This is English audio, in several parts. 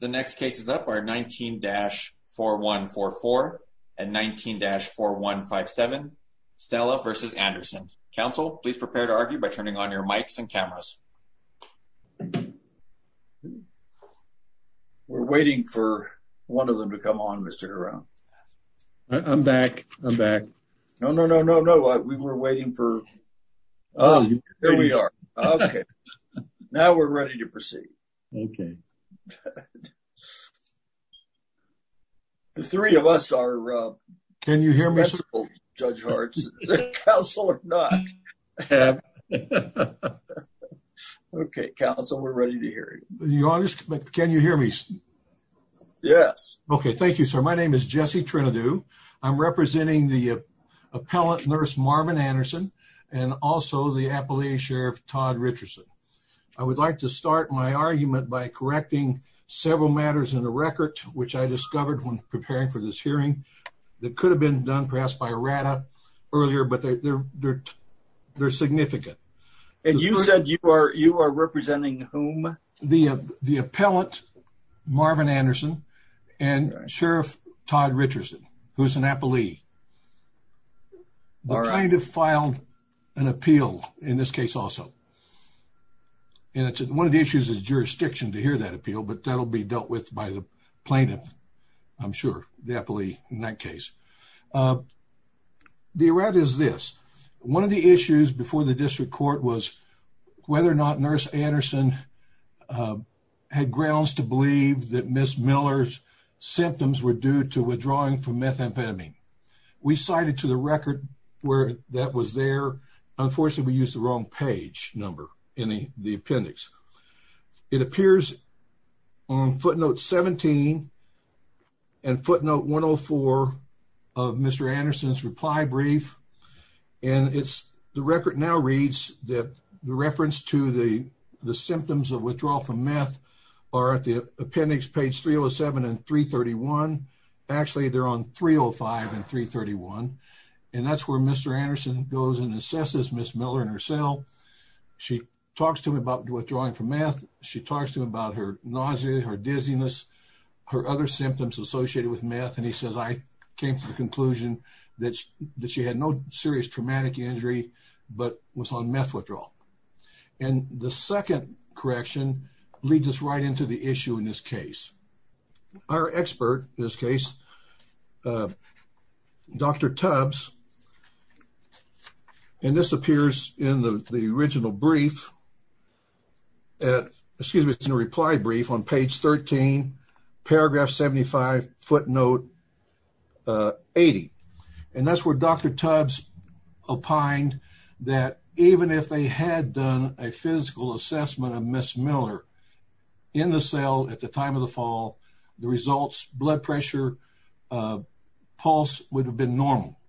The next cases up are 19-4144 and 19-4157. Stella versus Anderson. Council, please prepare to argue by turning on your mics and cameras. We're waiting for one of them to come on, Mr. Hiron. I'm back. I'm back. No, no, no, no, no. We were waiting for... Oh, here we are. Okay. Now we're ready to proceed. Okay. The three of us are... Can you hear me? ...dispensable, Judge Hartson. Is that counsel or not? Okay, counsel, we're ready to hear you. Your Honor, can you hear me? Yes. Okay. Thank you, sir. My name is Jesse Trinidou. I'm representing the appellant nurse Marvin Anderson and also the appellee sheriff Todd Richardson. I would like to start my argument by correcting several matters in the record, which I discovered when preparing for this hearing that could have been done perhaps by RADA earlier, but they're significant. And you said you are representing whom? The appellant, Marvin Anderson, and Sheriff Todd Richardson, who's an appellee. All right. The plaintiff filed an appeal in this case also. And one of the issues is jurisdiction to hear that appeal, but that'll be dealt with by the plaintiff, I'm sure, the appellee in that case. The errata is this. One of the issues before the district court was whether or not nurse Anderson had grounds to believe that Ms. Miller's symptoms were due to withdrawing from methamphetamine. We cited to the record where that was there. Unfortunately, we used the wrong page number in the appendix. It appears on footnote 17 and footnote 104 of Mr. Anderson's reply brief. And it's the record now reads that the reference to the symptoms of withdrawal from meth are at appendix page 307 and 331. Actually, they're on 305 and 331. And that's where Mr. Anderson goes and assesses Ms. Miller and herself. She talks to him about withdrawing from meth. She talks to him about her nausea, her dizziness, her other symptoms associated with meth. And he says, I came to the conclusion that she had no serious traumatic injury, but was on meth withdrawal. And the second correction leads us right into the issue in this case. Our expert in this case, Dr. Tubbs, and this appears in the original brief, excuse me, in the reply brief on page 13, paragraph 75, footnote 80. And that's where Dr. Tubbs opined that even if they had done a physical assessment of Ms. Miller in the cell at the time of the fall, the results, blood pressure, pulse would have been normal.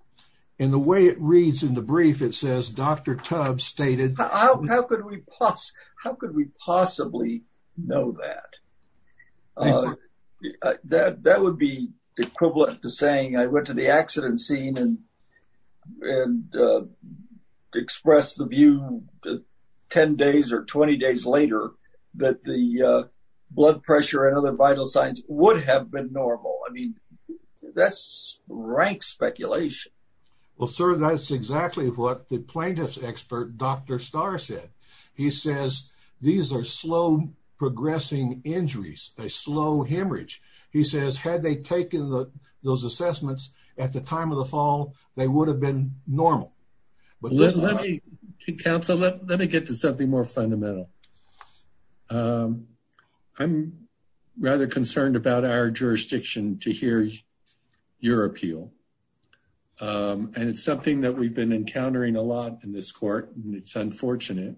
And the way it reads in the brief, it says Dr. Tubbs stated- Well, sir, that's exactly what the plaintiff's expert, Dr. Starr, said. He says, these are slow progressing injuries, a slow hemorrhage. He says, had they taken those assessments at the time of the fall, they would have been normal. Counsel, let me get to something more fundamental. I'm rather concerned about our jurisdiction to hear your appeal. And it's something that we've been encountering a lot in this court, and it's unfortunate.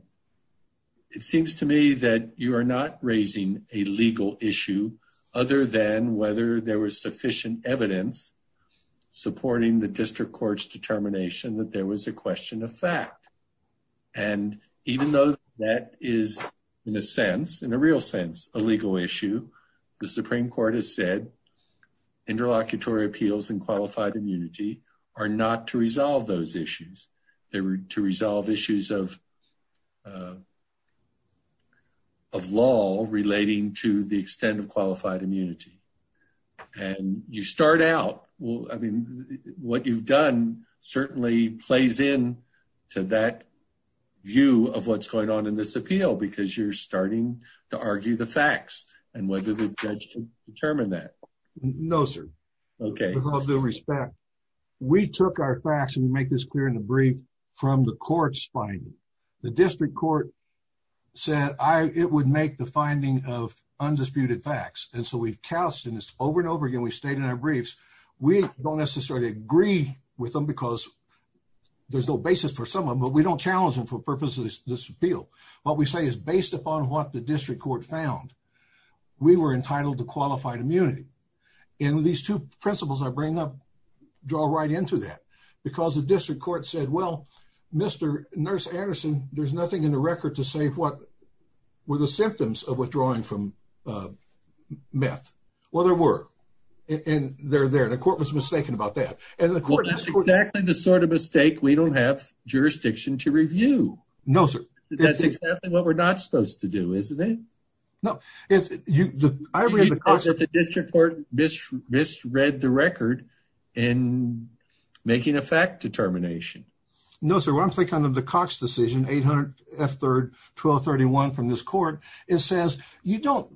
It seems to me that you are not raising a legal issue other than whether there was sufficient evidence supporting the district court's determination that there was a question of fact. And even though that is, in a sense, in a real sense, a legal issue, the Supreme Court has said interlocutory appeals and qualified immunity are not to resolve those issues. They were to resolve issues of law relating to the extent of qualified immunity. And you start out, well, I mean, what you've done certainly plays in to that view of what's going on in this appeal because you're starting to argue the facts and whether the judge can determine that. No, sir. Okay. With all due respect, we took our facts, and we make this clear in the brief, from the court's finding. The district court said it would make the finding of undisputed facts. And so we've cast, and it's over and over again, we've stated in our briefs, we don't necessarily agree with them because there's no basis for some of them, but we don't challenge them for purposes of this appeal. What we say is based upon what the district court found, we were entitled to qualified withdrawal. Right into that because the district court said, well, Mr. Nurse Anderson, there's nothing in the record to say what were the symptoms of withdrawing from meth. Well, there were, and they're there. The court was mistaken about that. And that's exactly the sort of mistake we don't have jurisdiction to review. No, sir. That's exactly what we're not supposed to do, isn't it? If you, I read the district court misread the record in making a fact determination. No, sir. Once they come to the Cox decision, 800 F third, 1231 from this court, it says, you don't,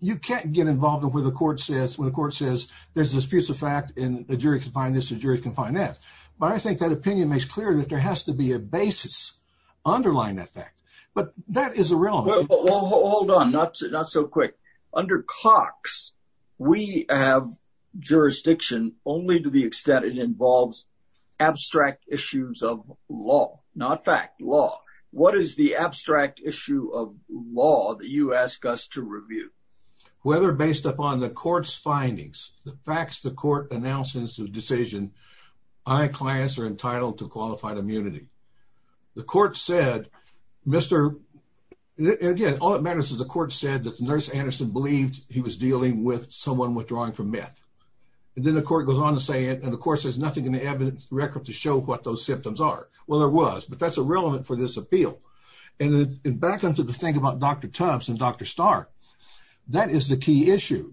you can't get involved in where the court says when the court says there's disputes of fact and the jury can find this, the jury can find that. But I think that opinion makes clear that there has to be a basis underlying that fact, but that is irrelevant. Hold on. Not, not so quick under Cox. We have jurisdiction only to the extent it involves abstract issues of law, not fact law. What is the abstract issue of law that you ask us to review? Whether based upon the court's findings, the facts, the court announces the decision, I class are entitled to qualified immunity. The court said, Mr. And again, all that matters is the court said that the nurse Anderson believed he was dealing with someone withdrawing from meth. And then the court goes on to say it. And of course there's nothing in the evidence record to show what those symptoms are. Well, there was, but that's irrelevant for this appeal. And then back into the thing about Dr. Tubbs and Dr. Stark, that is the key issue.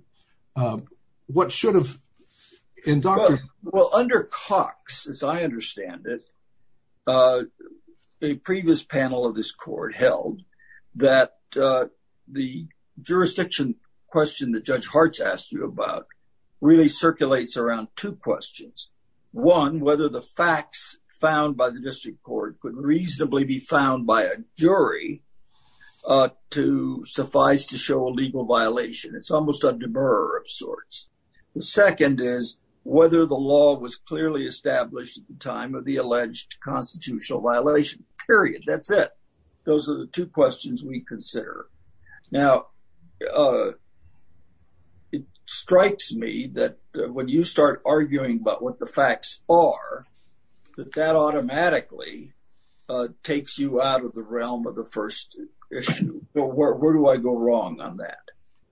Um, what should have in doctor? Well, under Cox, as I understand it, uh, a previous panel of this court held that, uh, the jurisdiction question that judge hearts asked you about really circulates around two questions. One, whether the facts found by the district court could reasonably be found by a jury, uh, to suffice to show a legal violation. It's almost a deborah of sorts. The second is whether the law was clearly established at the time of the alleged constitutional violation period. That's it. Those are the two questions we consider now. Uh, it strikes me that when you start arguing about what the facts are, that that automatically, uh, takes you out of the realm of the first issue. So where, where do I go wrong on that?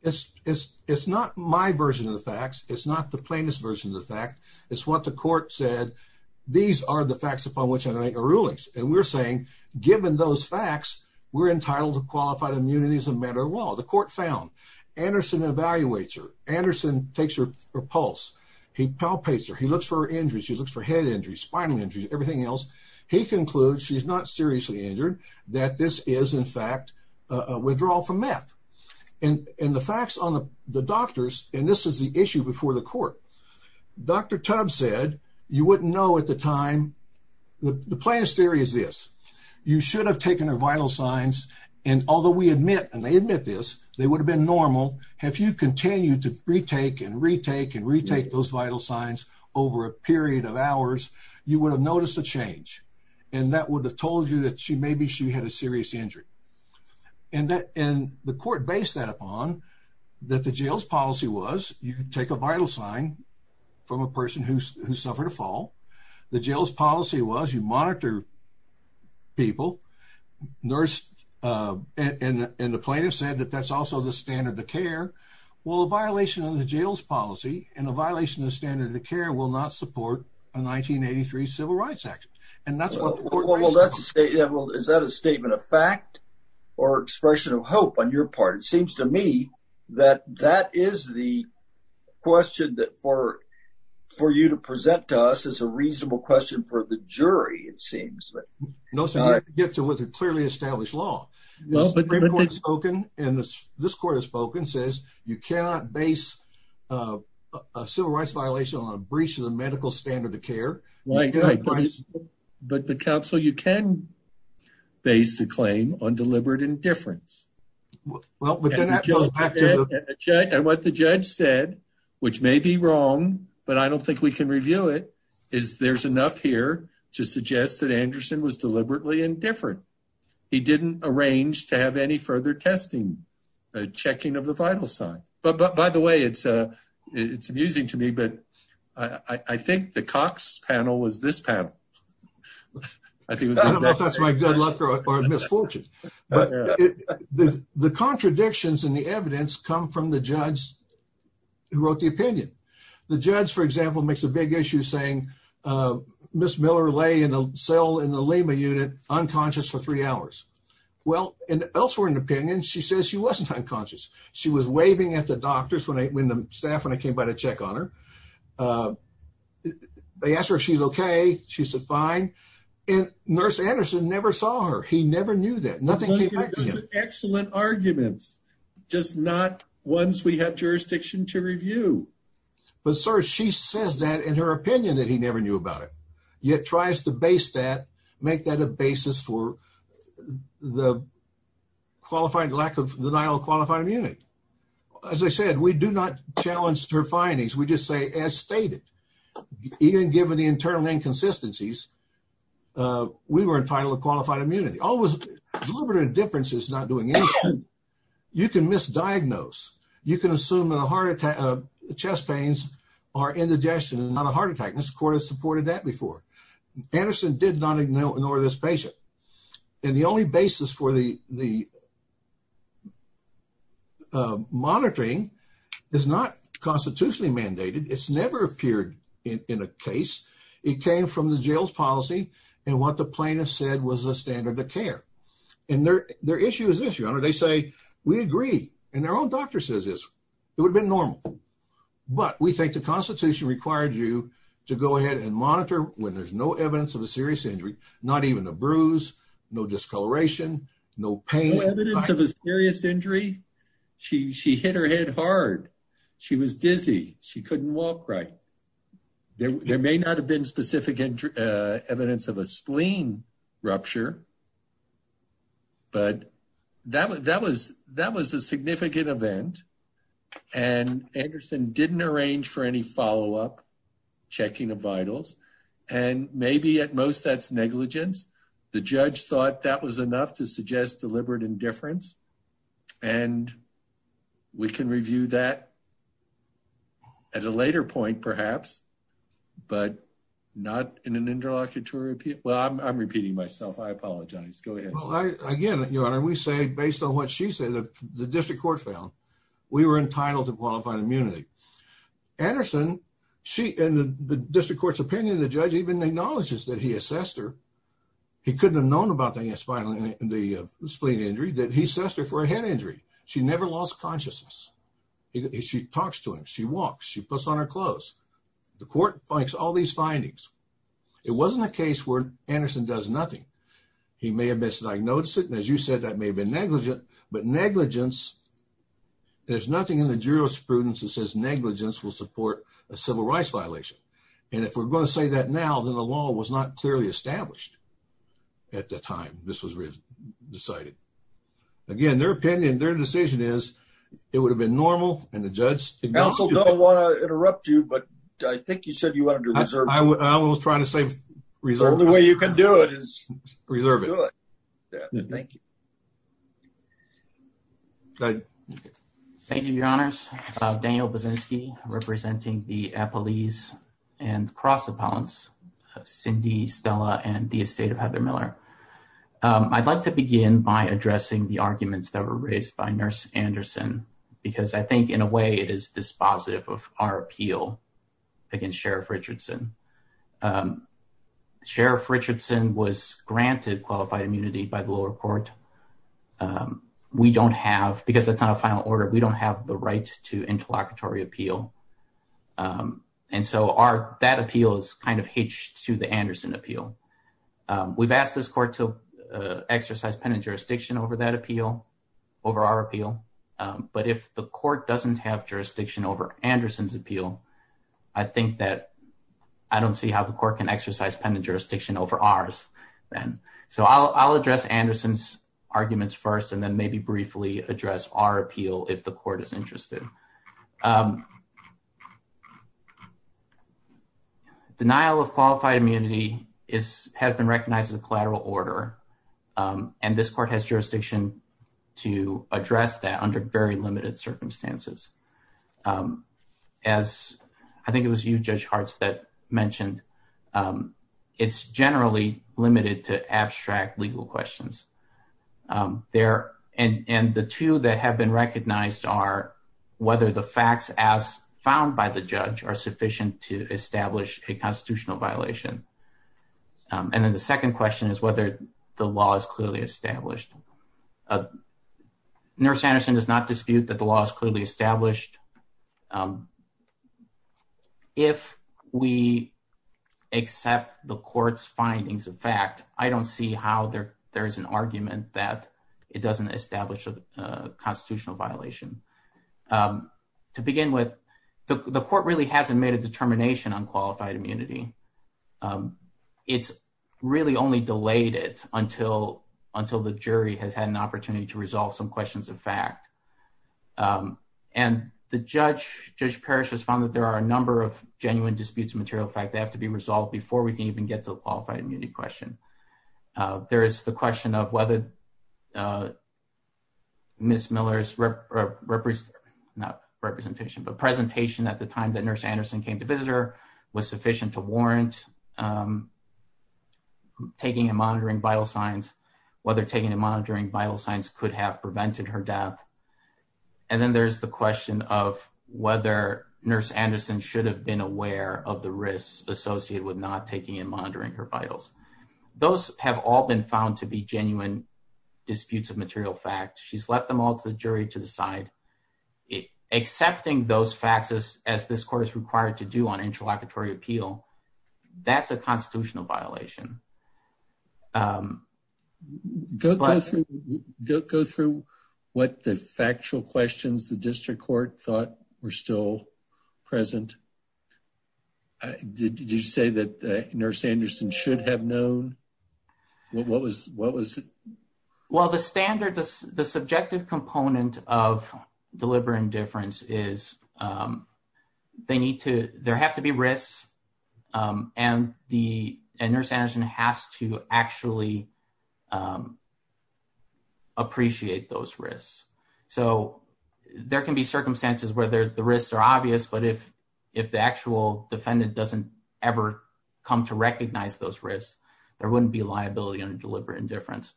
It's, it's, it's not my version of the facts. It's not the plaintiff's version of the fact it's what the court said. These are the facts upon which I make a rulings. And we're saying, given those facts, we're entitled to qualified immunity as a matter of law. The court found Anderson evaluates her. Anderson takes her pulse. He palpates her. He looks for her injuries. She looks for head injuries, spinal injuries, everything else. He concludes she's not seriously injured, that this is in fact a withdrawal from meth and the facts on the doctors. And this is the issue before the court. Dr. Tubbs said, you wouldn't know at the time the plaintiff's theory is this, you should have taken her vital signs. And although we admit, and they admit this, they would have been normal. Have you continued to retake and that would have told you that she may be, she had a serious injury and that in the court based that upon that the jail's policy was, you can take a vital sign from a person who's, who suffered a fall. The jail's policy was you monitor people, nurse, and the plaintiff said that that's also the standard of care. Well, a violation of the jail's policy and a violation of the standard of care will not support a 1983 civil rights action. And that's what. Well, that's a statement. Is that a statement of fact or expression of hope on your part? It seems to me that that is the question that for, for you to present to us as a reasonable question for the jury, it seems that. No sir, you have to get to what's a clearly established law. The Supreme Court has spoken and this, this court has spoken, says you cannot base a civil rights violation on a breach of the medical standard of care. But the council, you can base the claim on deliberate indifference. And what the judge said, which may be wrong, but I don't think we can review it is there's enough here to suggest that Anderson was deliberately indifferent. He didn't arrange to have any testing, uh, checking of the vital sign, but, but by the way, it's, uh, it's amusing to me, but I think the Cox panel was this panel. I think that's my good luck or misfortune, but the contradictions in the evidence come from the judge who wrote the opinion. The judge, for example, makes a big issue saying, uh, Ms. Miller lay in a cell in the Lima unit, unconscious for three hours. Well, elsewhere in the opinion, she says she wasn't unconscious. She was waving at the doctors when I, when the staff, when I came by to check on her, they asked her if she's okay. She said, fine. And nurse Anderson never saw her. He never knew that excellent arguments, just not once we have jurisdiction to review. But sir, she says that in her opinion, that he never knew about it. Yet tries to base that, make that a basis for the qualified lack of denial of qualified immunity. As I said, we do not challenge her findings. We just say, as stated, even given the internal inconsistencies, uh, we were entitled to qualified immunity. Always deliberate indifference is not doing anything. You can misdiagnose. You can assume that a heart attack, uh, chest pains are indigestion and not a heart attack. Mr. Nor this patient. And the only basis for the, the, uh, monitoring is not constitutionally mandated. It's never appeared in a case. It came from the jail's policy. And what the plaintiff said was a standard of care and their, their issue is this, your honor. They say we agree. And their own doctor says is it would have been normal, but we think the constitution required you to go ahead and monitor when there's no evidence of a serious injury, not even a bruise, no discoloration, no pain, no evidence of a serious injury. She, she hit her head hard. She was dizzy. She couldn't walk right. There may not have been specific, uh, evidence of a spleen rupture, but that was, that was, that was a significant event and Anderson didn't arrange for any follow up checking of vitals. And maybe at most that's negligence. The judge thought that was enough to suggest deliberate indifference. And we can review that at a later point perhaps, but not in an interlocutory. Well, I'm, I'm repeating myself. I apologize. Go ahead. Well, I, again, your honor, we say, based on what she said, the district court found we were entitled to qualified immunity. Anderson, she, and the district court's opinion of the judge even acknowledges that he assessed her. He couldn't have known about the spinal, the spleen injury that he assessed her for a head injury. She never lost consciousness. She talks to him. She walks, she puts on her clothes. The court finds all these findings. It wasn't a case where Anderson does nothing. He may have misdiagnosed it. And as you said, that may have been negligent, but negligence, there's nothing in the jurisprudence that says negligence will support a civil rights violation. And if we're going to say that now, then the law was not clearly established at the time this was decided again, their opinion, their decision is it would have been normal. And the judge also don't want to interrupt you, but I think you have a question. Go ahead. Thank you, your honors. Daniel Bozinski, representing the Appellees and Cross Appellants, Cindy, Stella, and the estate of Heather Miller. I'd like to begin by addressing the arguments that were raised by nurse Anderson, because I think in a way it is dispositive of our appeal against Sheriff Richardson. Sheriff Richardson was granted qualified immunity by the lower court. We don't have, because that's not a final order, we don't have the right to interlocutory appeal. And so that appeal is kind of hitched to the Anderson appeal. We've asked this court to exercise penitent jurisdiction over that appeal, over our appeal. But if the court doesn't have I don't see how the court can exercise penitent jurisdiction over ours then. So I'll address Anderson's arguments first and then maybe briefly address our appeal if the court is interested. Denial of qualified immunity has been recognized as a collateral order, and this court has jurisdiction to address that under very limited circumstances. As I think it was you, Judge Hartz, that mentioned it's generally limited to abstract legal questions. There, and the two that have been recognized are whether the facts as found by the judge are sufficient to establish a constitutional violation. And then the second question is whether the law is clearly established. Nurse Anderson does not dispute that the law is clearly established, if we accept the court's findings of fact, I don't see how there is an argument that it doesn't establish a constitutional violation. To begin with, the court really hasn't made a determination on qualified immunity. It's really only delayed it until the jury has had an opinion. Judge Parrish has found that there are a number of genuine disputes of material fact that have to be resolved before we can even get to the qualified immunity question. There is the question of whether Ms. Miller's presentation at the time that Nurse Anderson came to visit her was sufficient to warrant taking and monitoring vital signs, whether taking and monitoring vital signs could have prevented her death. And then there's the question of whether Nurse Anderson should have been aware of the risks associated with not taking and monitoring her vitals. Those have all been found to be genuine disputes of material fact. She's left them all to the jury to decide. Accepting those facts as this court is required to do on interlocutory appeal, that's a constitutional violation. Go through what the factual questions the district court thought were still present. Did you say that Nurse Anderson should have known? Well, the subjective component of delivering difference is there have to be risks and Nurse Anderson has to actually appreciate those risks. So, there can be circumstances where the risks are obvious, but if the actual defendant doesn't ever come to recognize those risks, there wouldn't be liability on deliberate indifference.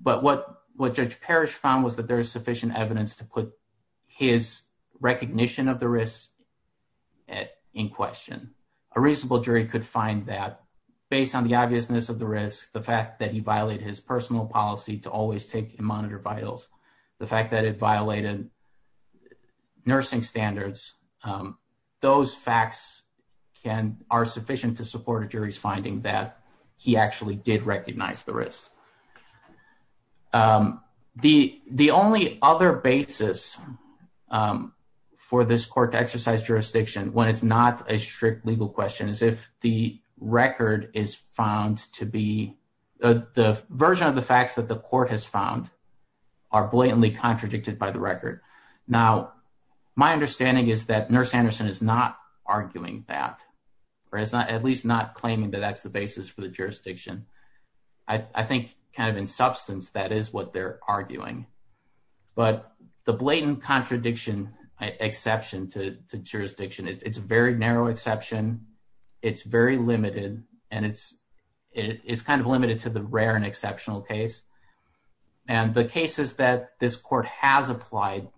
But what Judge Parrish found was there's sufficient evidence to put his recognition of the risk in question. A reasonable jury could find that based on the obviousness of the risk, the fact that he violated his personal policy to always take and monitor vitals, the fact that it violated nursing standards, those facts are sufficient to support a jury's finding that he actually did recognize the risk. The only other basis for this court to exercise jurisdiction when it's not a strict legal question is if the record is found to be the version of the facts that the court has found are blatantly contradicted by the record. Now, my understanding is that Nurse Anderson is not arguing that or at least not claiming that that's the basis for the jurisdiction. I think kind of in substance, that is what they're arguing. But the blatant contradiction exception to jurisdiction, it's a very narrow exception, it's very limited, and it's kind of limited to the rare and exceptional case. And the cases that this court has applied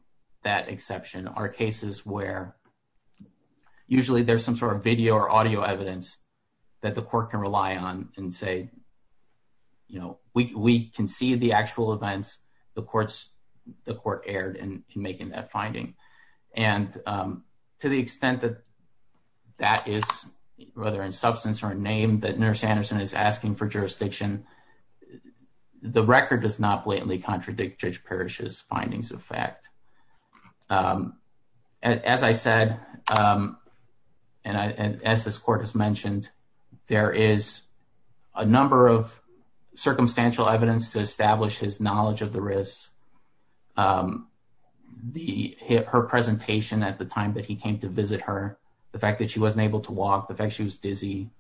that exception are cases where usually there's some sort of video or audio evidence that the court can rely on and say, we can see the actual events the court aired in making that finding. And to the extent that that is, whether in substance or name, that Nurse Anderson is asking for jurisdiction, the record does not blatantly contradict Judge Parrish's findings of the case. As I said, and as this court has mentioned, there is a number of circumstantial evidence to establish his knowledge of the risks. Her presentation at the time that he came to visit her, the fact that she wasn't able to walk, the fact she was dizzy,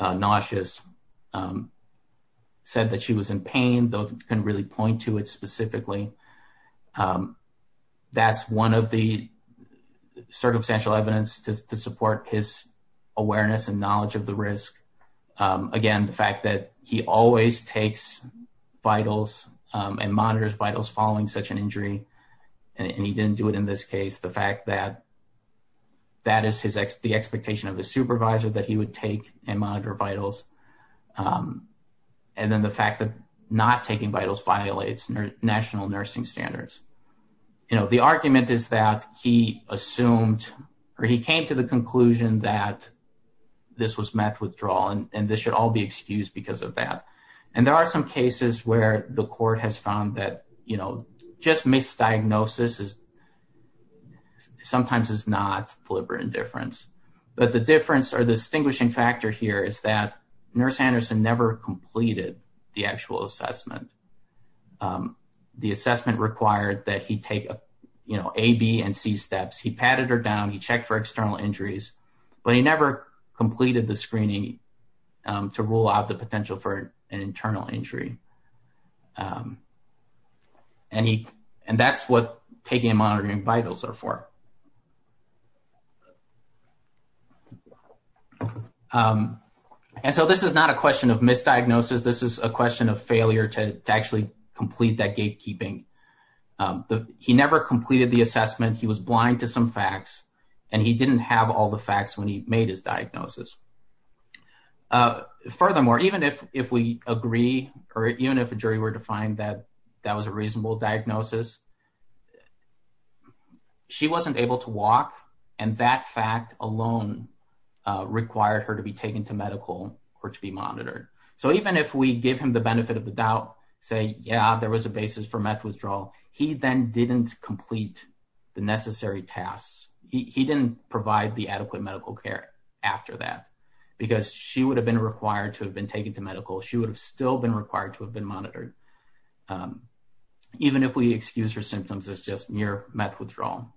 nauseous, said that she was in pain, though couldn't really point to it that's one of the circumstantial evidence to support his awareness and knowledge of the risk. Again, the fact that he always takes vitals and monitors vitals following such an injury, and he didn't do it in this case, the fact that that is the expectation of the supervisor that he would take and monitor vitals. And then the fact that not taking vitals violates national nursing standards. The argument is that he assumed or he came to the conclusion that this was meth withdrawal and this should all be excused because of that. And there are some cases where the court has found that just misdiagnosis sometimes is not deliberate indifference. But the difference or distinguishing factor here is that Anderson never completed the actual assessment. The assessment required that he take A, B, and C steps. He patted her down, he checked for external injuries, but he never completed the screening to rule out the potential for an internal injury. And that's what question of misdiagnosis. This is a question of failure to actually complete that gatekeeping. He never completed the assessment. He was blind to some facts, and he didn't have all the facts when he made his diagnosis. Furthermore, even if we agree or even if a jury were to find that that was a reasonable diagnosis, she wasn't able to walk. And that fact alone required her to be taken to medical or to be monitored. So even if we give him the benefit of the doubt, say, yeah, there was a basis for meth withdrawal, he then didn't complete the necessary tasks. He didn't provide the adequate medical care after that because she would have been required to have been taken to medical. She would have still required to have been monitored. Even if we excuse her symptoms, it's just mere meth withdrawal.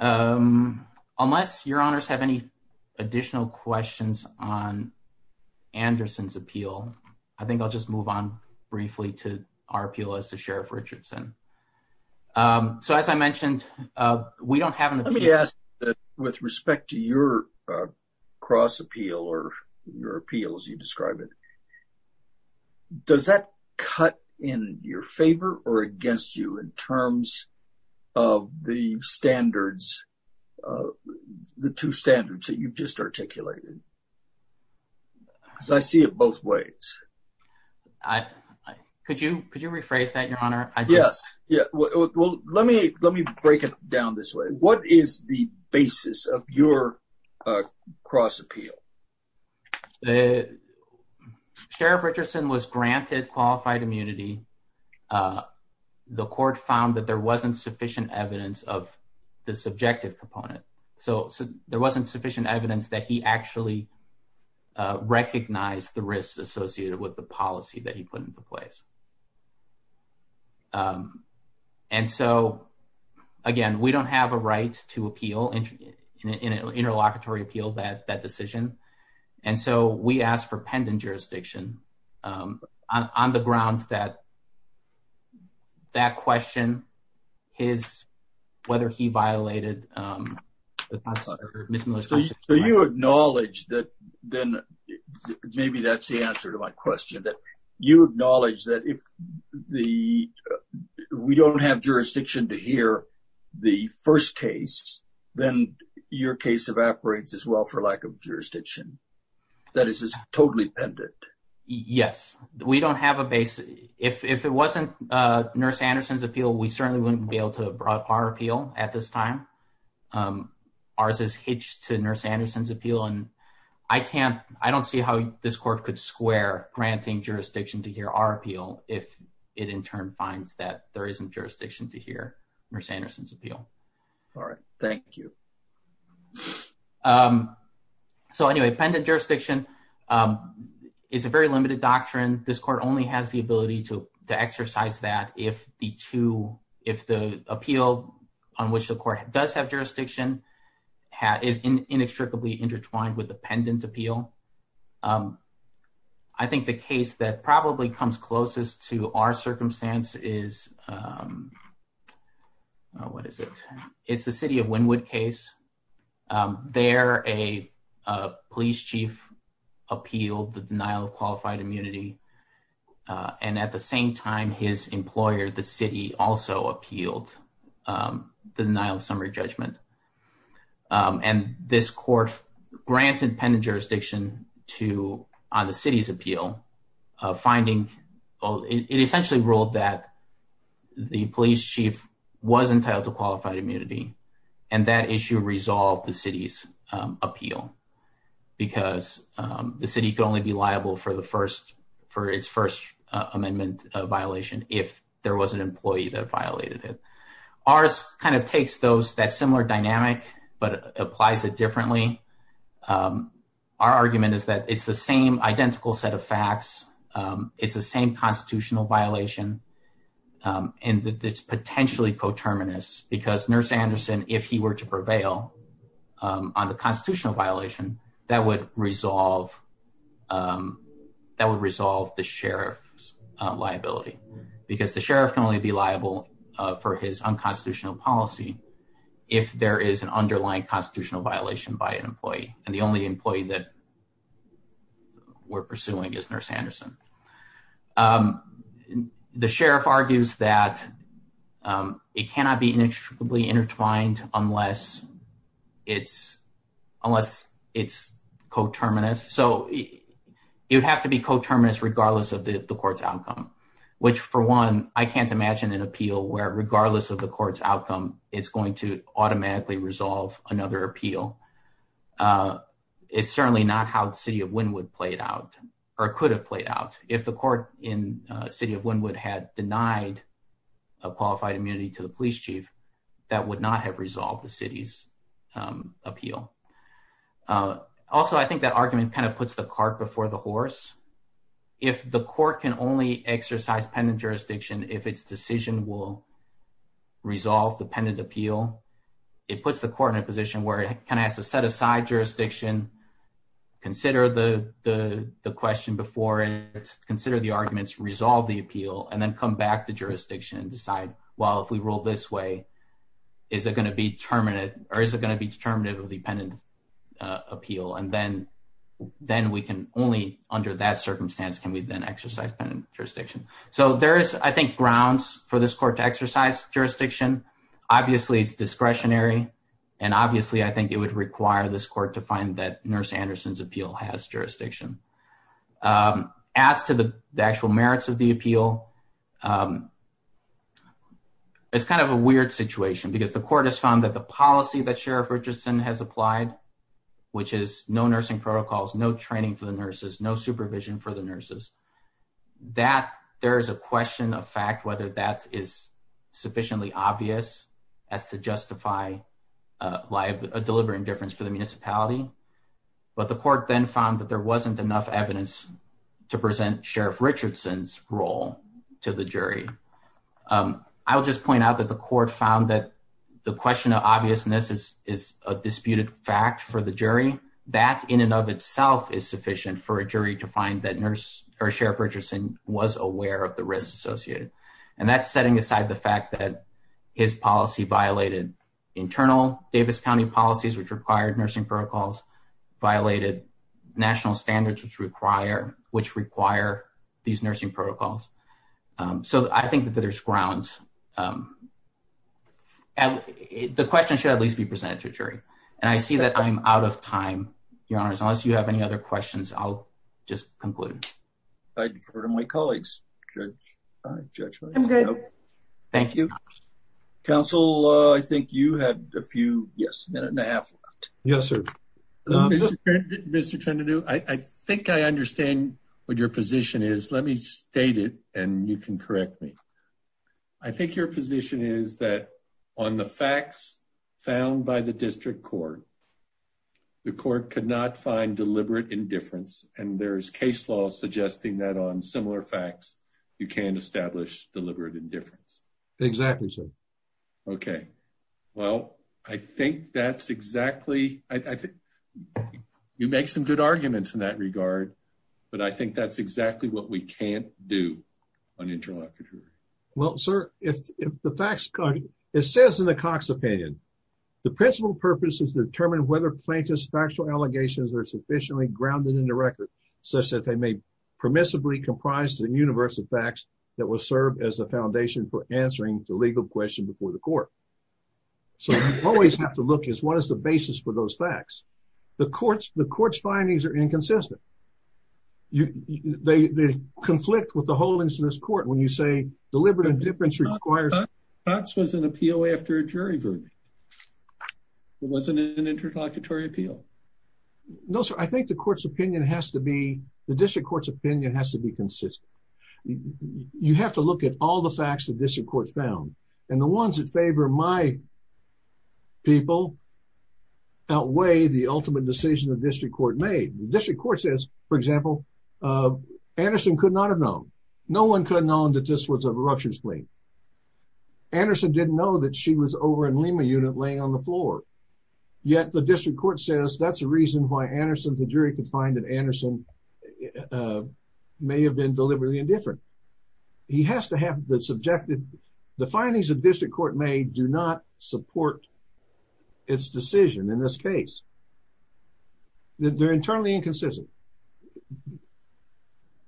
Unless your honors have any additional questions on Anderson's appeal, I think I'll just move on briefly to our appeal as to Sheriff Richardson. So as I mentioned, we don't have an appeal. With respect to your cross appeal or your appeal as you describe it, does that cut in your favor or against you in terms of the standards, the two standards that you've just articulated? Because I see it both ways. Could you rephrase that, your honor? Yes. Yeah. Well, let me break it down this way. What is the basis of your cross appeal? Sheriff Richardson was granted qualified immunity. The court found that there wasn't sufficient evidence of the subjective component. So there wasn't sufficient evidence that he actually recognized the risks associated with the policy that he put into place. And so, again, we don't have a right to appeal, an interlocutory appeal, that decision. And so we asked for pendant jurisdiction on the grounds that that question, whether he violated... So you acknowledge that then maybe that's the answer to my question, that you acknowledge that if we don't have jurisdiction to hear the first case, then your case evaporates as well for lack of jurisdiction. That is, it's totally pendant. Yes. We don't have a base. If it wasn't Nurse Anderson's appeal, we certainly wouldn't be able to have brought our appeal at this time. Ours is hitched to Nurse Anderson's appeal. And I can't, I don't see how this court could square granting jurisdiction to hear our appeal if it in turn finds that there isn't jurisdiction to hear Nurse Anderson's appeal. All right. Thank you. So anyway, pendant jurisdiction is a very limited doctrine. This court only has the ability to exercise that if the appeal on which the court does have jurisdiction is inextricably intertwined with the pendant appeal. I think the case that probably comes closest to our circumstance is, what is it? It's the city of Wynwood case. There, a police chief appealed the denial of qualified immunity. And at the same time, his employer, the city also appealed the denial of summary judgment. And this court granted pendant jurisdiction to, on the city's appeal, finding it essentially ruled that the police chief was entitled to qualified immunity. And that issue resolved the city's appeal because the city could only be liable for the first, for its first amendment violation if there was an employee that violated it. Ours kind of takes those, that similar dynamic, but applies it differently. Our argument is that it's the same identical set of facts. It's the same constitutional violation. And it's potentially coterminous because Nurse Anderson, if he were to prevail on the constitutional violation, that would resolve, that would resolve the sheriff's for his unconstitutional policy. If there is an underlying constitutional violation by an employee and the only employee that we're pursuing is Nurse Anderson. The sheriff argues that it cannot be inextricably intertwined unless it's, unless it's coterminous. So it would have to be coterminous regardless of the court's outcome, which for one, I can't imagine an appeal where regardless of the court's outcome, it's going to automatically resolve another appeal. It's certainly not how the city of Wynwood played out or could have played out. If the court in city of Wynwood had denied a qualified immunity to the police chief, that would not have resolved the city's appeal. Also, I think that argument kind of puts the cart before the horse. If the court can only exercise pendant jurisdiction, if its decision will resolve the pendant appeal, it puts the court in a position where it kind of has to set aside jurisdiction, consider the question before it, consider the arguments, resolve the appeal, and then come back to jurisdiction and decide, well, if we rule this way, is it going to be under that circumstance? Can we then exercise pendant jurisdiction? So there is, I think, grounds for this court to exercise jurisdiction. Obviously, it's discretionary. And obviously, I think it would require this court to find that Nurse Anderson's appeal has jurisdiction. As to the actual merits of the appeal, it's kind of a weird situation because the court has found that the policy that Sheriff Richardson has applied, which is no nursing protocols, no training for the nurses, no supervision for the nurses, there is a question of fact whether that is sufficiently obvious as to justify a deliberate indifference for the municipality. But the court then found that there wasn't enough evidence to present Sheriff Richardson's role to the jury. I'll just point out that the court found that the question of obviousness is a is sufficient for a jury to find that Sheriff Richardson was aware of the risks associated. And that's setting aside the fact that his policy violated internal Davis County policies, which required nursing protocols, violated national standards, which require these nursing protocols. So I think that there's grounds. And the question should at least be presented to a jury. And I see that I'm out of time, Your Honors. Unless you have any other questions, I'll just conclude. I defer to my colleagues, Judge. I'm good. Thank you. Counsel, I think you had a few, yes, a minute and a half left. Yes, sir. Mr. Trenodue, I think I understand what your position is. Let me state it and you can correct me. I think your position is that on the facts found by the district court, the court could not find deliberate indifference. And there's case laws suggesting that on similar facts, you can't establish deliberate indifference. Exactly. So, okay. Well, I think that's exactly, I think you make some good arguments in that regard, but I think that's exactly what we can't do unintellectually. Well, sir, if the facts, it says in the Cox opinion, the principal purpose is to determine whether plaintiff's factual allegations are sufficiently grounded in the record, such that they may permissibly comprise the universe of facts that will serve as the foundation for answering the legal question before the court. So you always have to look at what is the basis for those facts. The court's findings are when you say deliberate indifference requires. That was an appeal after a jury verdict. It wasn't an interlocutory appeal. No, sir. I think the court's opinion has to be, the district court's opinion has to be consistent. You have to look at all the facts that district court found and the ones that favor my people outweigh the ultimate decision the district court made. The district court says, for example, Anderson could not have known. No one could have known that this was a ruptured spleen. Anderson didn't know that she was over in Lima unit laying on the floor. Yet the district court says that's the reason why Anderson, the jury could find that Anderson may have been deliberately indifferent. He has to have the subjective, the findings of district court may do not support its decision in this case. They're internally inconsistent.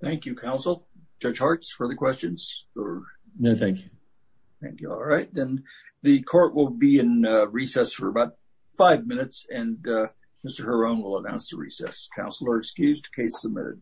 Thank you, counsel. Judge Hartz, further questions? No, thank you. Thank you. All right, then the court will be in recess for about five minutes and Mr. Heron will announce the recess. Counselor excused. Case submitted.